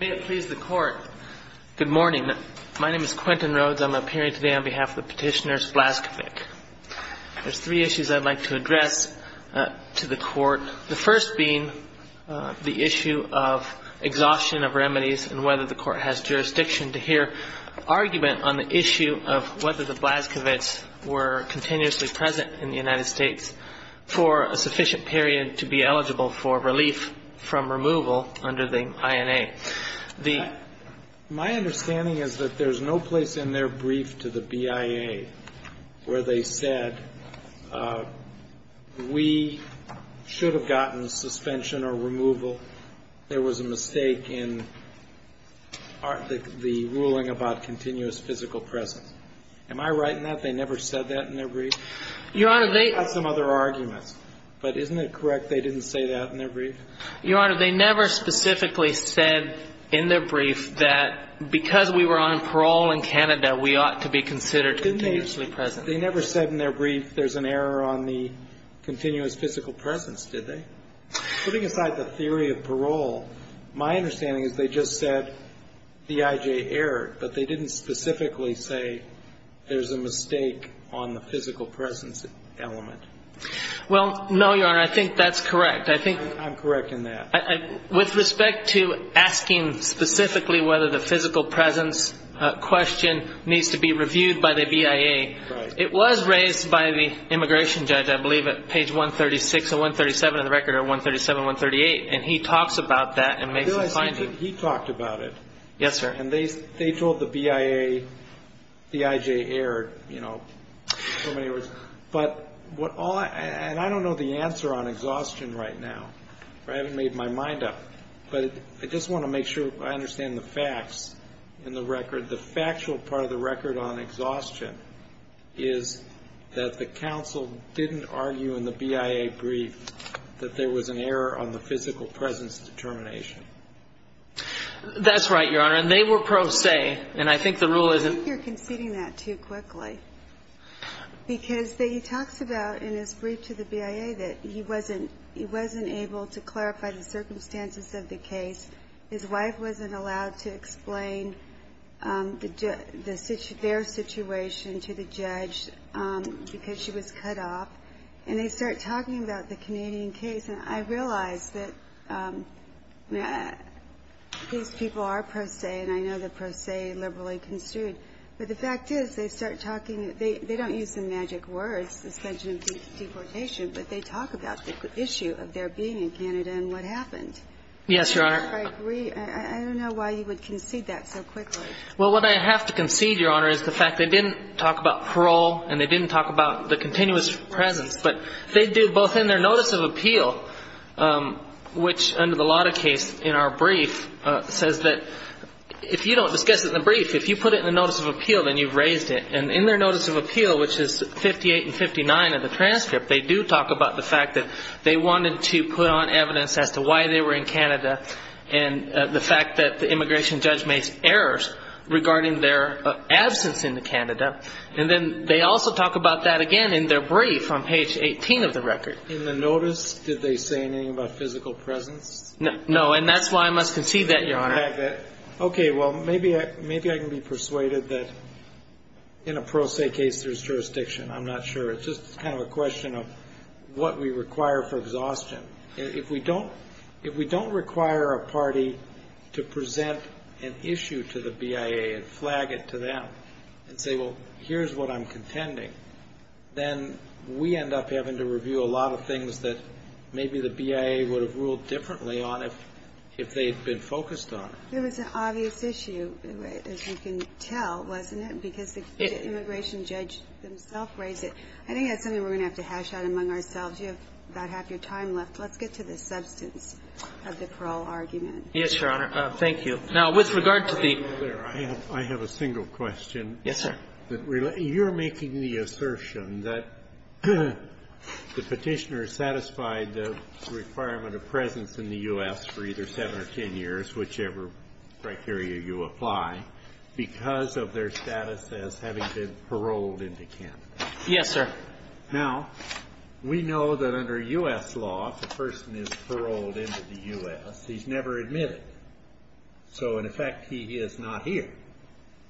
May it please the Court, good morning. My name is Quentin Rhodes. I'm appearing today on behalf of the petitioners Blaskovic. There's three issues I'd like to address to the Court. The first being the issue of exhaustion of remedies and whether the Court has jurisdiction to hear argument on the issue of whether the Blaskovics were continuously present in the United States for a sufficient period to be eligible for relief from removal under the INA. My understanding is that there's no place in their brief to the BIA where they said we should have gotten suspension or removal. There was a mistake in the ruling about continuous physical presence. Am I right in that they never said that in their brief? Your Honor, they They had some other arguments, but isn't it correct they didn't say that in their brief? Your Honor, they never specifically said in their brief that because we were on parole in Canada, we ought to be considered continuously present. They never said in their brief there's an error on the continuous physical presence, did they? Putting aside the theory of parole, my understanding is they just said the IJ error, but they didn't specifically say there's a mistake on the physical presence element. Well, no, Your Honor, I think that's correct. I'm correct in that. With respect to asking specifically whether the physical presence question needs to be reviewed by the BIA, it was raised by the immigration judge, I believe at page 136 or 137 of the record, or 137, 138, and he talks about that and makes a finding. I realize he talked about it. Yes, sir. And they told the BIA the IJ error, you know, in so many words. But what all, and I don't know the answer on exhaustion right now. I haven't made my mind up, but I just want to make sure I understand the facts in the record. And the factual part of the record on exhaustion is that the counsel didn't argue in the BIA brief that there was an error on the physical presence determination. That's right, Your Honor, and they were pro se, and I think the rule is. I think you're conceding that too quickly, because he talks about in his brief to the BIA that he wasn't able to clarify the circumstances of the case. His wife wasn't allowed to explain their situation to the judge because she was cut off. And they start talking about the Canadian case, and I realize that these people are pro se, and I know they're pro se, liberally construed. But the fact is they start talking, they don't use the magic words, suspension of deportation, but they talk about the issue of their being in Canada and what happened. Yes, Your Honor. I agree. I don't know why you would concede that so quickly. Well, what I have to concede, Your Honor, is the fact they didn't talk about parole and they didn't talk about the continuous presence. But they did both in their notice of appeal, which under the Lotta case in our brief says that if you don't discuss it in the brief, if you put it in the notice of appeal, then you've raised it. And in their notice of appeal, which is 58 and 59 of the transcript, they do talk about the fact that they wanted to put on evidence as to why they were in Canada and the fact that the immigration judge made errors regarding their absence in Canada. And then they also talk about that again in their brief on page 18 of the record. In the notice, did they say anything about physical presence? No, and that's why I must concede that, Your Honor. Okay, well, maybe I can be persuaded that in a pro se case there's jurisdiction. I'm not sure. It's just kind of a question of what we require for exhaustion. If we don't require a party to present an issue to the BIA and flag it to them and say, well, here's what I'm contending, then we end up having to review a lot of things that maybe the BIA would have ruled differently on if they had been focused on it. It was an obvious issue, as you can tell, wasn't it? Because the immigration judge themselves raised it. I think that's something we're going to have to hash out among ourselves. You have about half your time left. Let's get to the substance of the parole argument. Yes, Your Honor. Thank you. Now, with regard to the ---- I have a single question. Yes, sir. You're making the assertion that the Petitioner satisfied the requirement of presence in the U.S. for either 7 or 10 years, whichever criteria you apply, because of their status as having been paroled into Canada. Yes, sir. Now, we know that under U.S. law, if a person is paroled into the U.S., he's never admitted. So, in effect, he is not here,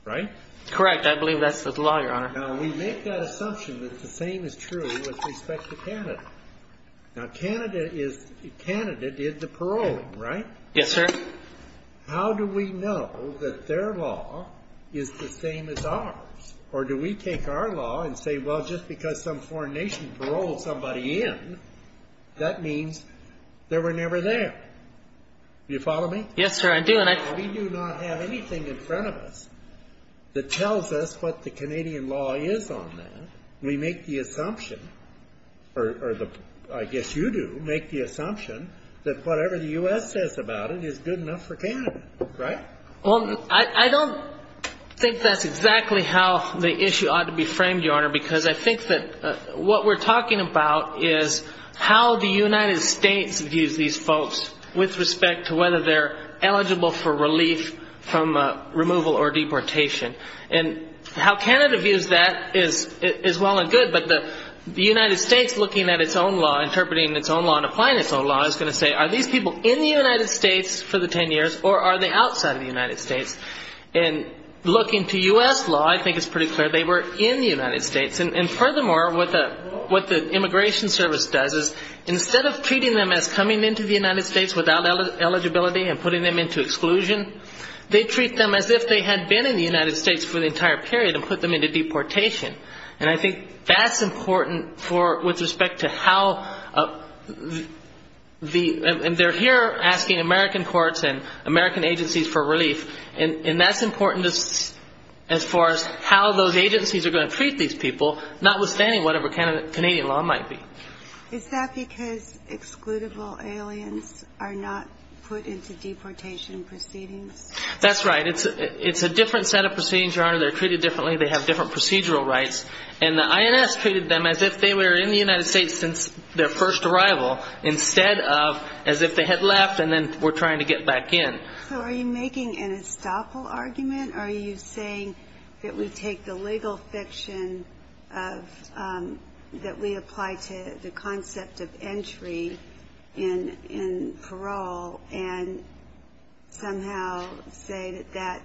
right? Correct. I believe that's the law, Your Honor. Now, we make that assumption that the same is true with respect to Canada. Now, Canada did the paroling, right? Yes, sir. How do we know that their law is the same as ours? Or do we take our law and say, well, just because some foreign nation paroled somebody in, that means they were never there? Do you follow me? Yes, sir, I do. We do not have anything in front of us that tells us what the Canadian law is on that. Well, I don't think that's exactly how the issue ought to be framed, Your Honor, because I think that what we're talking about is how the United States views these folks with respect to whether they're eligible for relief from removal or deportation. And how Canada views that is well and good, but the United States looking at its own law, interpreting its own law, and applying its own law, I was going to say, are these people in the United States for the 10 years or are they outside of the United States? And looking to U.S. law, I think it's pretty clear they were in the United States. And furthermore, what the Immigration Service does is instead of treating them as coming into the United States without eligibility and putting them into exclusion, they treat them as if they had been in the United States for the entire period and put them into deportation. And I think that's important with respect to how they're here asking American courts and American agencies for relief, and that's important as far as how those agencies are going to treat these people, notwithstanding whatever Canadian law might be. Is that because excludable aliens are not put into deportation proceedings? That's right. It's a different set of proceedings, Your Honor. They're treated differently. They have different procedural rights. And the INS treated them as if they were in the United States since their first arrival, instead of as if they had left and then were trying to get back in. So are you making an estoppel argument? Are you saying that we take the legal fiction that we apply to the concept of entry in parole and somehow say that that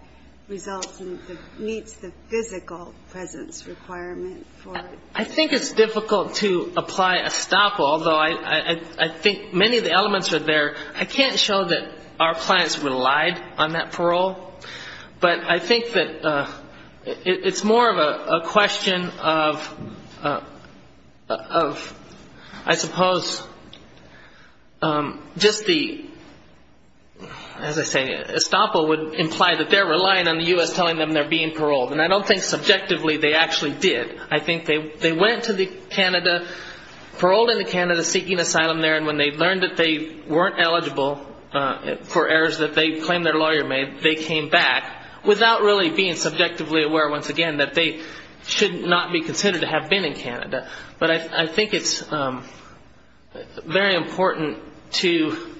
results in meets the physical presence requirement for it? I think it's difficult to apply estoppel, although I think many of the elements are there. I can't show that our clients relied on that parole, but I think that it's more of a question of, I suppose, just the, as I say, estoppel would imply that they're relying on the U.S. telling them they're being paroled, and I don't think subjectively they actually did. I think they went to Canada, paroled into Canada, seeking asylum there, and when they learned that they weren't eligible for errors that they claimed their lawyer made, they came back without really being subjectively aware, once again, but I think it's very important to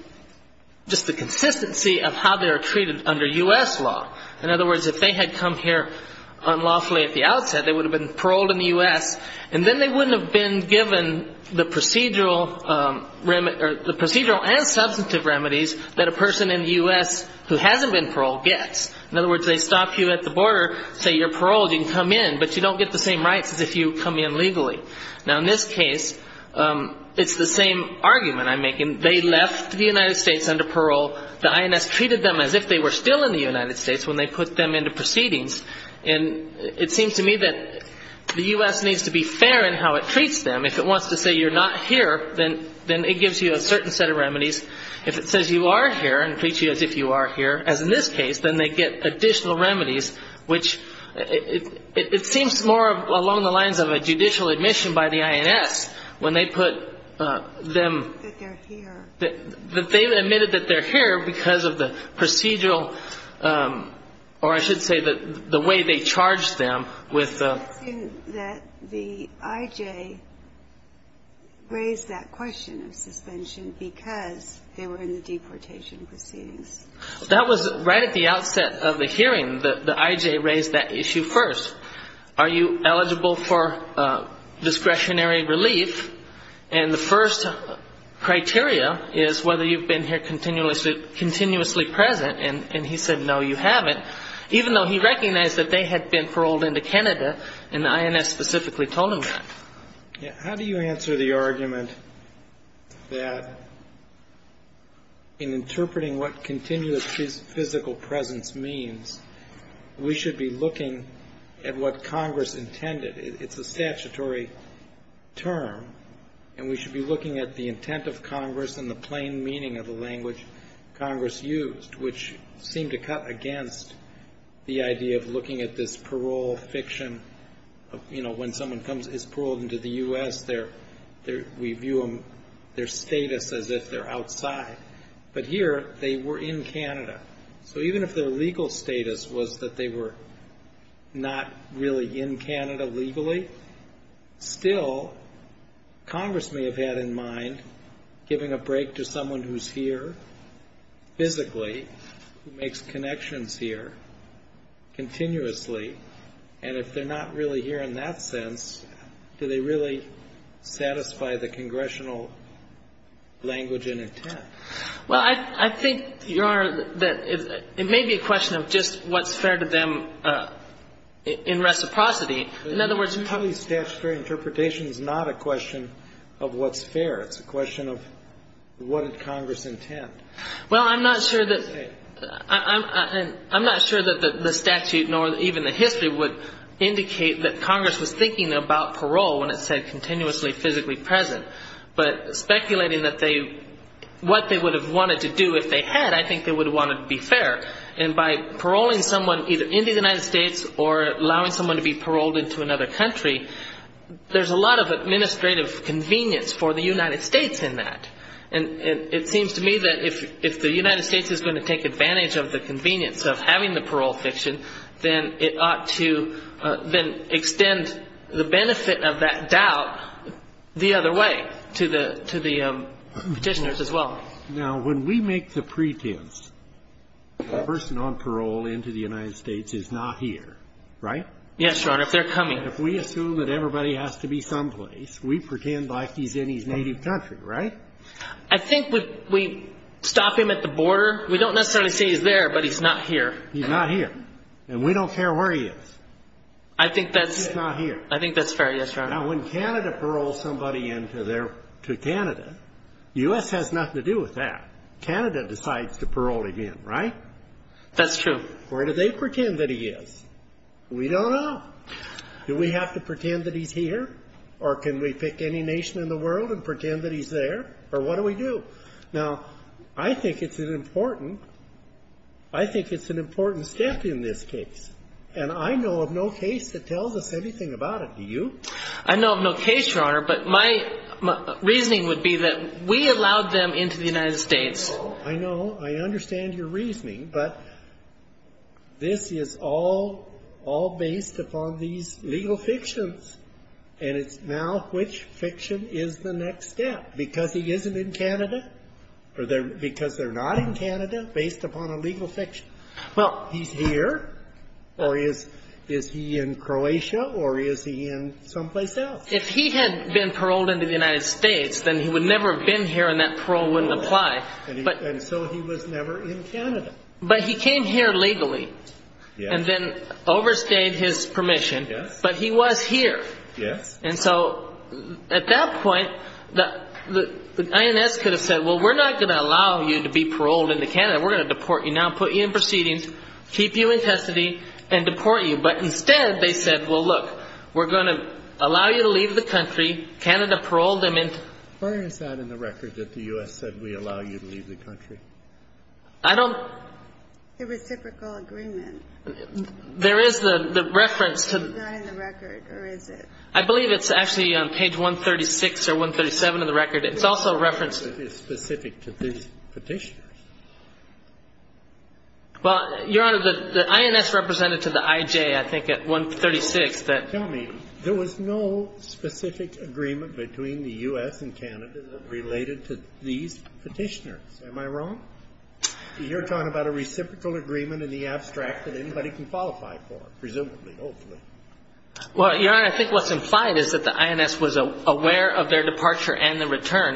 just the consistency of how they're treated under U.S. law. In other words, if they had come here unlawfully at the outset, they would have been paroled in the U.S., and then they wouldn't have been given the procedural and substantive remedies that a person in the U.S. who hasn't been paroled gets. In other words, they stop you at the border, say you're paroled, you can come in, but you don't get the same rights as if you come in legally. Now, in this case, it's the same argument I'm making. They left the United States under parole. The INS treated them as if they were still in the United States when they put them into proceedings, and it seems to me that the U.S. needs to be fair in how it treats them. If it wants to say you're not here, then it gives you a certain set of remedies. If it says you are here and treats you as if you are here, as in this case, then they get additional remedies, which it seems more along the lines of a judicial admission by the INS when they put them. That they're here. That they admitted that they're here because of the procedural, or I should say the way they charged them with. I assume that the IJ raised that question of suspension because they were in the deportation proceedings. That was right at the outset of the hearing. The IJ raised that issue first. Are you eligible for discretionary relief? And the first criteria is whether you've been here continuously present, and he said no, you haven't, even though he recognized that they had been paroled into Canada, and the INS specifically told him that. How do you answer the argument that in interpreting what continuous physical presence means, we should be looking at what Congress intended? It's a statutory term, and we should be looking at the intent of Congress and the plain meaning of the language Congress used, which seemed to cut against the idea of looking at this parole fiction of, you know, when someone is paroled into the U.S., we view their status as if they're outside. But here, they were in Canada. So even if their legal status was that they were not really in Canada legally, still Congress may have had in mind giving a break to someone who's here physically, who makes connections here continuously, and if they're not really here in that sense, do they really satisfy the congressional language and intent? Well, I think, Your Honor, that it may be a question of just what's fair to them in reciprocity. In other words, you probably — Totally statutory interpretation is not a question of what's fair. It's a question of what did Congress intend. Well, I'm not sure that the statute nor even the history would indicate that Congress was thinking about parole when it said continuously physically present. But speculating what they would have wanted to do if they had, I think they would have wanted to be fair. And by paroling someone either into the United States or allowing someone to be paroled into another country, there's a lot of administrative convenience for the United States in that. And it seems to me that if the United States is going to take advantage of the convenience of having the parole fiction, then it ought to then extend the benefit of that doubt the other way to the Petitioners as well. Now, when we make the pretense the person on parole into the United States is not here, right? Yes, Your Honor, if they're coming. If we assume that everybody has to be someplace, we pretend like he's in his native country, right? I think we stop him at the border. We don't necessarily say he's there, but he's not here. He's not here. And we don't care where he is. I think that's — He's not here. I think that's fair, yes, Your Honor. Now, when Canada paroled somebody into Canada, the U.S. has nothing to do with that. Canada decides to parole him in, right? That's true. Where do they pretend that he is? We don't know. Do we have to pretend that he's here? Or can we pick any nation in the world and pretend that he's there? Or what do we do? Now, I think it's an important — I think it's an important step in this case. And I know of no case that tells us anything about it. Do you? I know of no case, Your Honor, but my reasoning would be that we allowed them into the United States. I know. I understand your reasoning. But this is all based upon these legal fictions. And it's now which fiction is the next step. Because he isn't in Canada, or because they're not in Canada, based upon a legal fiction. Well — He's here, or is he in Croatia, or is he in someplace else? If he had been paroled into the United States, then he would never have been here, and that parole wouldn't apply. And so he was never in Canada. But he came here legally. Yes. And then overstayed his permission. Yes. But he was here. Yes. And so at that point, the INS could have said, well, we're not going to allow you to be paroled into Canada. We're going to deport you. Now put you in proceedings, keep you in custody, and deport you. But instead, they said, well, look, we're going to allow you to leave the country. Canada paroled him into — Where is that in the record that the U.S. said we allow you to leave the country? I don't — The reciprocal agreement. There is the reference to — Is that in the record, or is it — I believe it's actually on page 136 or 137 of the record. It's also referenced — It's specific to these Petitioners. Well, Your Honor, the INS represented to the IJ, I think, at 136, that — Tell me, there was no specific agreement between the U.S. and Canada that related to these Petitioners. Am I wrong? You're talking about a reciprocal agreement in the abstract that anybody can qualify for, presumably, hopefully. Well, Your Honor, I think what's implied is that the INS was aware of their departure and the return.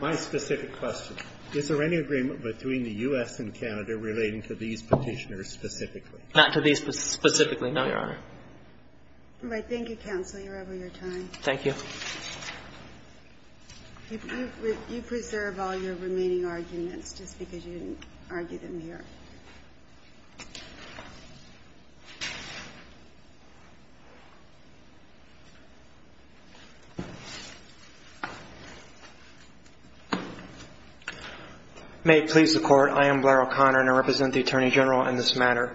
My specific question, is there any agreement between the U.S. and Canada relating to these Petitioners specifically? Not to these specifically, no, Your Honor. All right. Thank you, counsel. You're over your time. Thank you. You preserve all your remaining arguments just because you didn't argue them here. May it please the Court. I am Blair O'Connor, and I represent the Attorney General in this matter.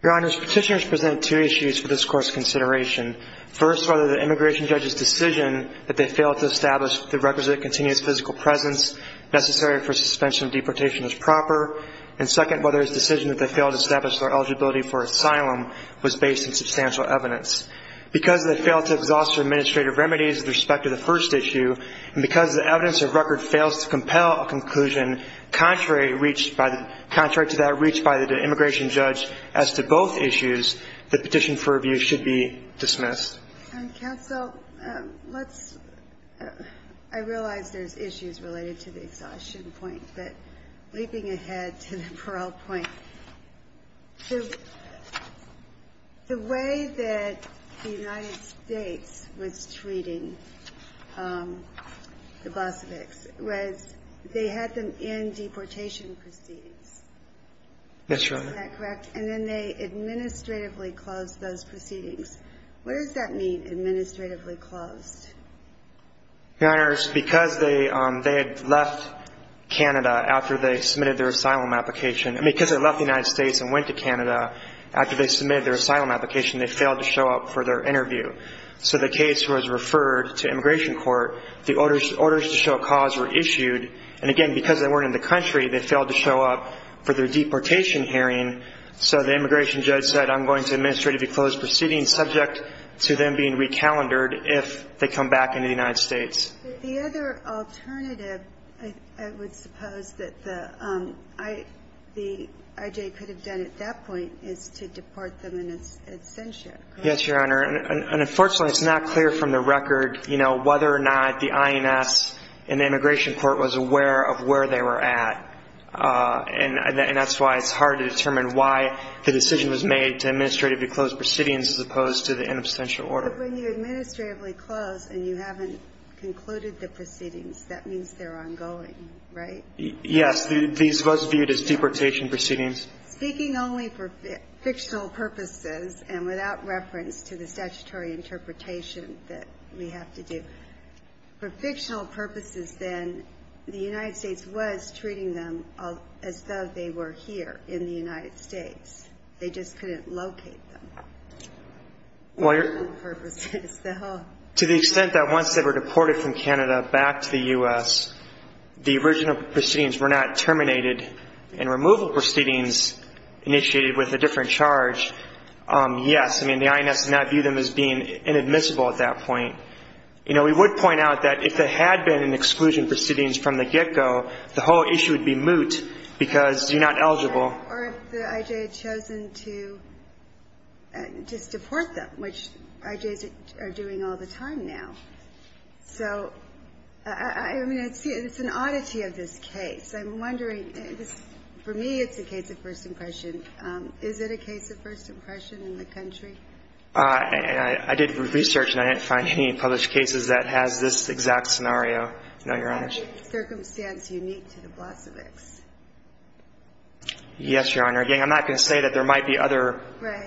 Your Honors, Petitioners present two issues for this Court's consideration. First, whether the immigration judge's decision that they failed to establish the requisite continuous physical presence necessary for suspension of deportation was proper. And second, whether his decision that they failed to establish their eligibility for asylum was based on substantial evidence. Because they failed to exhaust their administrative remedies with respect to the first issue, and because the evidence of record fails to compel a conclusion contrary to that reached by the immigration judge as to both issues, the petition for review should be dismissed. Counsel, let's – I realize there's issues related to the exhaustion point. But leaping ahead to the parole point, the way that the United States was treating the Blasophics was they had them in deportation proceedings. Yes, Your Honor. Is that correct? And then they administratively closed those proceedings. What does that mean, administratively closed? Your Honors, because they had left Canada after they submitted their asylum application – I mean, because they left the United States and went to Canada after they submitted their asylum application, they failed to show up for their interview. So the case was referred to immigration court. The orders to show cause were issued. And again, because they weren't in the country, they failed to show up for their deportation hearing. So the immigration judge said, I'm going to administratively close proceedings subject to them being recalendared if they come back into the United States. The other alternative, I would suppose, that the IJ could have done at that point is to deport them in absentia. Yes, Your Honor. And unfortunately, it's not clear from the record, you know, whether or not the INS and the immigration court was aware of where they were at. And that's why it's hard to determine why the decision was made to administratively close proceedings as opposed to the in absentia order. But when you administratively close and you haven't concluded the proceedings, that means they're ongoing, right? Yes, these were viewed as deportation proceedings. Speaking only for fictional purposes and without reference to the statutory interpretation that we have to do, for fictional purposes then, the United States was treating them as though they were here in the United States. They just couldn't locate them. For fictional purposes, though. To the extent that once they were deported from Canada back to the U.S., the original proceedings were not terminated and removal proceedings initiated with a different charge, yes. I mean, the INS did not view them as being inadmissible at that point. You know, we would point out that if there had been an exclusion proceedings from the get-go, the whole issue would be moot because you're not eligible. Or if the I.J. had chosen to just deport them, which I.J.'s are doing all the time now. So, I mean, it's an oddity of this case. I'm wondering, for me it's a case of first impression. Is it a case of first impression in the country? I did research and I didn't find any published cases that has this exact scenario, Your Honor. Is there any circumstance unique to the Blasevics? Yes, Your Honor. Again, I'm not going to say that there might be other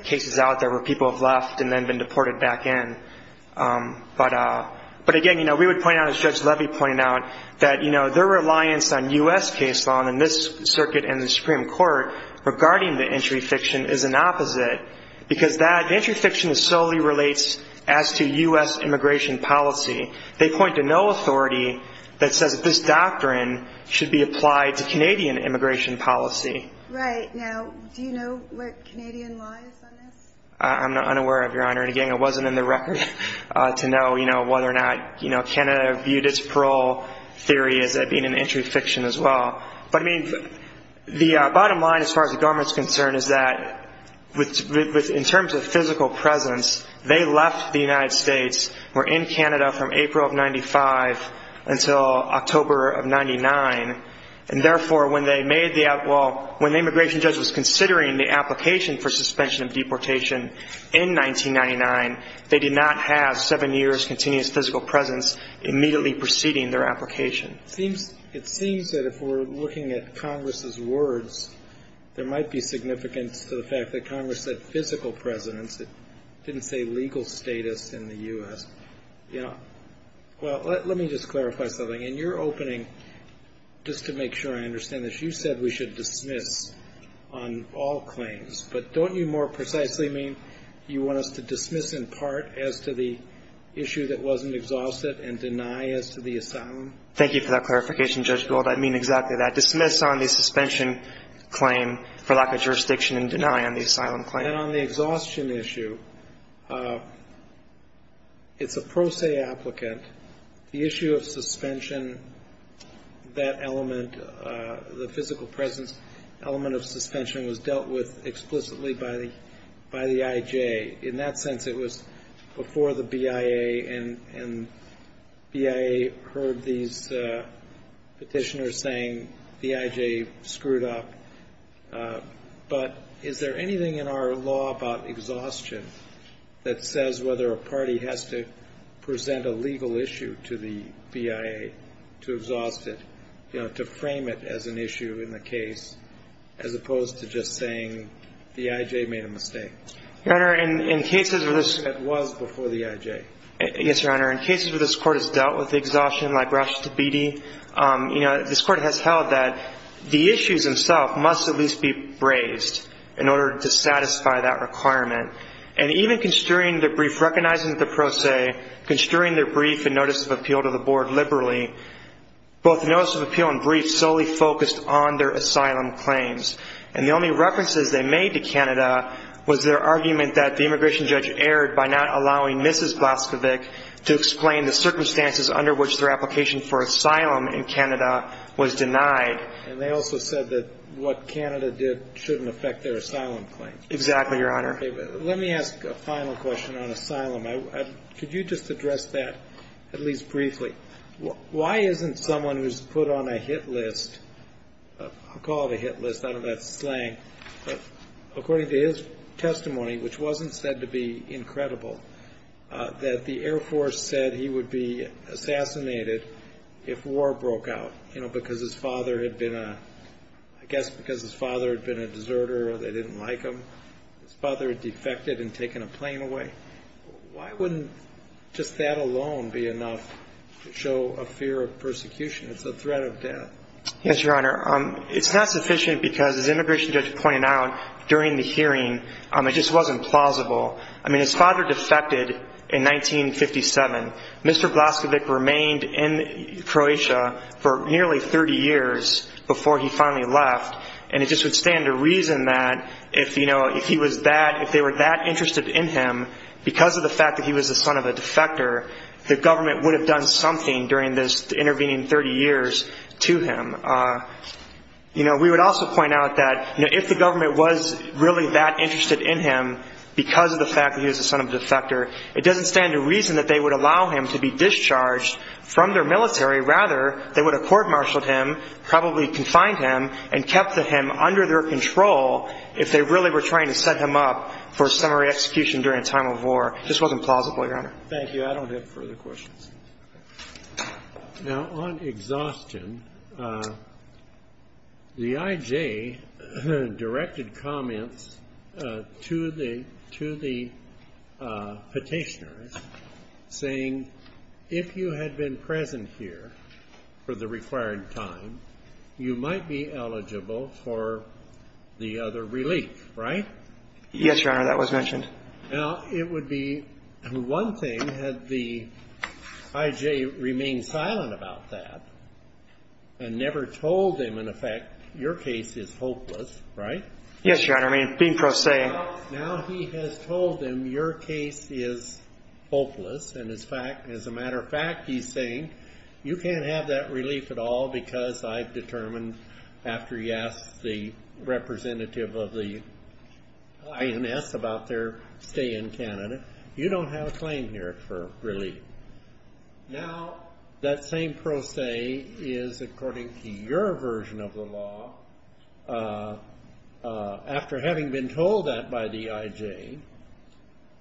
cases out there where people have left and then been deported back in. But again, you know, we would point out, as Judge Levy pointed out, that, you know, their reliance on U.S. case law in this circuit and the Supreme Court regarding the entry fiction is an opposite because that entry fiction solely relates as to U.S. immigration policy. They point to no authority that says that this doctrine should be applied to Canadian immigration policy. Right. Now, do you know where Canadian lies on this? I'm unaware of, Your Honor. And again, it wasn't in the record to know, you know, whether or not, you know, Canada viewed its parole theory as being an entry fiction as well. But, I mean, the bottom line as far as the government's concerned is that in terms of physical presence, they left the United States, were in Canada from April of 95 until October of 99. And, therefore, when they made the outlaw, when the immigration judge was considering the application for suspension of deportation in 1999, they did not have seven years' continuous physical presence immediately preceding their application. It seems that if we're looking at Congress's words, there might be significance to the fact that Congress said physical presence. It didn't say legal status in the U.S. You know, well, let me just clarify something. In your opening, just to make sure I understand this, you said we should dismiss on all claims. But don't you more precisely mean you want us to dismiss in part as to the issue that wasn't exhausted and deny as to the asylum? Thank you for that clarification, Judge Gold. I mean exactly that. Dismiss on the suspension claim for lack of jurisdiction and deny on the asylum claim. And on the exhaustion issue, it's a pro se applicant. The issue of suspension, that element, the physical presence element of suspension was dealt with explicitly by the IJ. In that sense, it was before the BIA, and BIA heard these petitioners saying the IJ screwed up. But is there anything in our law about exhaustion that says whether a party has to present a legal issue to the BIA to exhaust it, you know, to frame it as an issue in the case, as opposed to just saying the IJ made a mistake? Your Honor, in cases where this — It was before the IJ. Yes, Your Honor. In cases where this Court has dealt with exhaustion, like Rashida Beattie, you know, this Court has held that the issues themselves must at least be raised in order to satisfy that requirement. And even construing the brief recognizing the pro se, construing the brief and notice of appeal to the Board liberally, both the notice of appeal and brief solely focused on their asylum claims. And the only references they made to Canada was their argument that the immigration judge erred by not allowing Mrs. Blazkowicz to explain the circumstances under which their application for asylum in Canada was denied. And they also said that what Canada did shouldn't affect their asylum claims. Exactly, Your Honor. Let me ask a final question on asylum. Could you just address that at least briefly? Why isn't someone who's put on a hit list — I'll call it a hit list. I don't know if that's slang. But according to his testimony, which wasn't said to be incredible, that the Air Force said he would be assassinated if war broke out, you know, because his father had been a — I guess because his father had been a deserter, they didn't like him. His father defected and taken a plane away. Why wouldn't just that alone be enough to show a fear of persecution? It's a threat of death. Yes, Your Honor. It's not sufficient because, as the immigration judge pointed out during the hearing, it just wasn't plausible. I mean, his father defected in 1957. Mr. Blazkowicz remained in Croatia for nearly 30 years before he finally left. And it just would stand to reason that if, you know, if he was that — if they were that interested in him because of the fact that he was the son of a defector, the government would have done something during this intervening 30 years to him. You know, we would also point out that, you know, if the government was really that interested in him because of the fact that he was the son of a defector, it doesn't stand to reason that they would allow him to be discharged from their military. Rather, they would have court-martialed him, probably confined him, and kept him under their control if they really were trying to set him up for summary execution during a time of war. This wasn't plausible, Your Honor. Thank you. I don't have further questions. Now, on exhaustion, the I.J. directed comments to the petitioners saying, if you had been present here for the required time, you might be eligible for the other relief, right? Yes, Your Honor. That was mentioned. Now, it would be one thing had the I.J. remained silent about that and never told him, in effect, your case is hopeless, right? Yes, Your Honor. I mean, being pro se. Now he has told him your case is hopeless, and as a matter of fact, he's saying, after he asks the representative of the INS about their stay in Canada, you don't have a claim here for relief. Now, that same pro se is, according to your version of the law, after having been told that by the I.J.,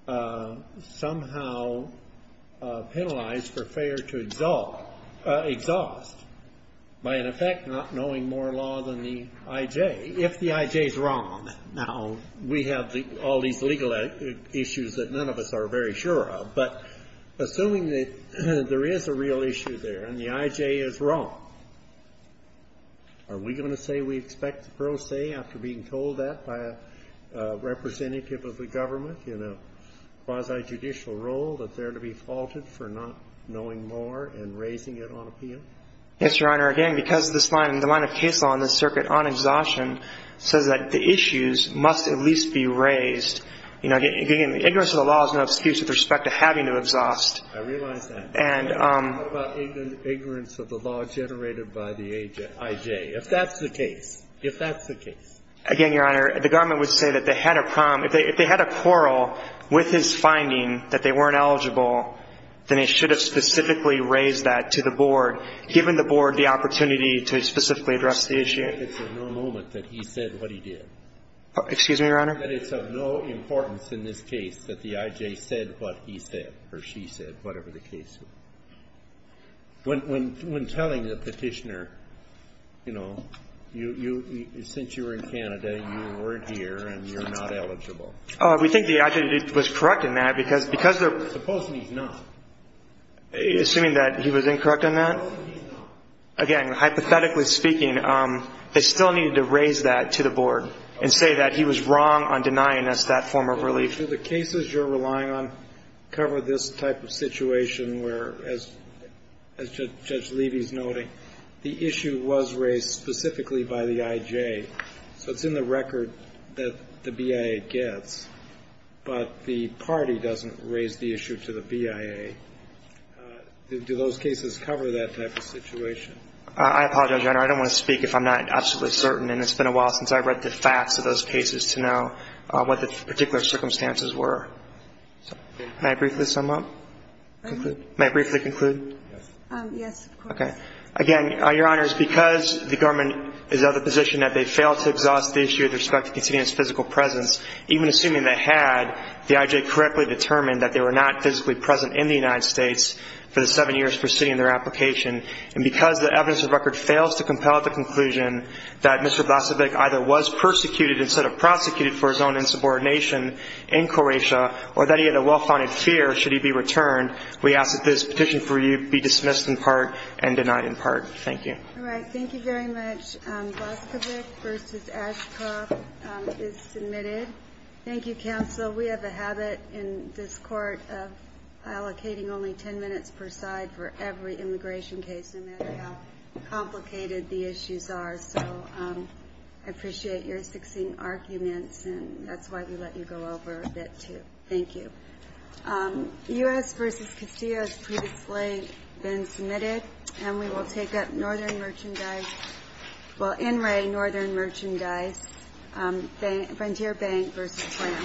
somehow penalized for failure to exhaust, by, in effect, not knowing more law than the I.J., if the I.J. is wrong. Now, we have all these legal issues that none of us are very sure of, but assuming that there is a real issue there and the I.J. is wrong, are we going to say we expect pro se after being told that by a representative of the government in a quasi-judicial role that they're to be faulted for not knowing more and raising it on appeal? Yes, Your Honor. Again, because this line, the line of case law in this circuit on exhaustion says that the issues must at least be raised. You know, again, ignorance of the law is no excuse with respect to having to exhaust. I realize that. And — What about ignorance of the law generated by the I.J.? If that's the case, if that's the case. Again, Your Honor, the government would say that they had a — if they had a quarrel with his finding that they weren't eligible, then they should have specifically raised that to the board, given the board the opportunity to specifically address the issue. It's of no moment that he said what he did. Excuse me, Your Honor? That it's of no importance in this case that the I.J. said what he said or she said, whatever the case was. When telling the Petitioner, you know, you — since you were in Canada, you weren't here and you're not eligible. We think the I.J. was correct in that, because — Suppose he's not. Assuming that he was incorrect on that? Suppose he's not. Again, hypothetically speaking, they still needed to raise that to the board and say that he was wrong on denying us that form of relief. The cases you're relying on cover this type of situation where, as Judge Levy's noting, the issue was raised specifically by the I.J. So it's in the record that the BIA gets, but the party doesn't raise the issue to the BIA. Do those cases cover that type of situation? I apologize, Your Honor. I don't want to speak if I'm not absolutely certain, and it's been a while since I've read the facts of those cases to know what the particular circumstances were. May I briefly sum up? May I briefly conclude? Yes, of course. Okay. Again, Your Honors, because the government is of the position that they failed to exhaust the issue with respect to conceding his physical presence, even assuming they had the I.J. correctly determined that they were not physically present in the United States for the seven years preceding their application, and because the evidence of record fails to compel the conclusion that Mr. Blasevic either was persecuted instead of prosecuted for his own insubordination in Croatia or that he had a well-founded fear should he be returned, we ask that this petition for you be dismissed in part and denied in part. Thank you. All right. Thank you very much. Blasevic v. Ashcroft is submitted. Thank you, Counsel. We have a habit in this Court of allocating only 10 minutes per side for every immigration case, no matter how complicated the issues are. So I appreciate your succinct arguments, and that's why we let you go over a bit, too. Thank you. U.S. v. Castillo has previously been submitted, and we will take up NRA Northern Merchandise, Frontier Bank v. SLAM.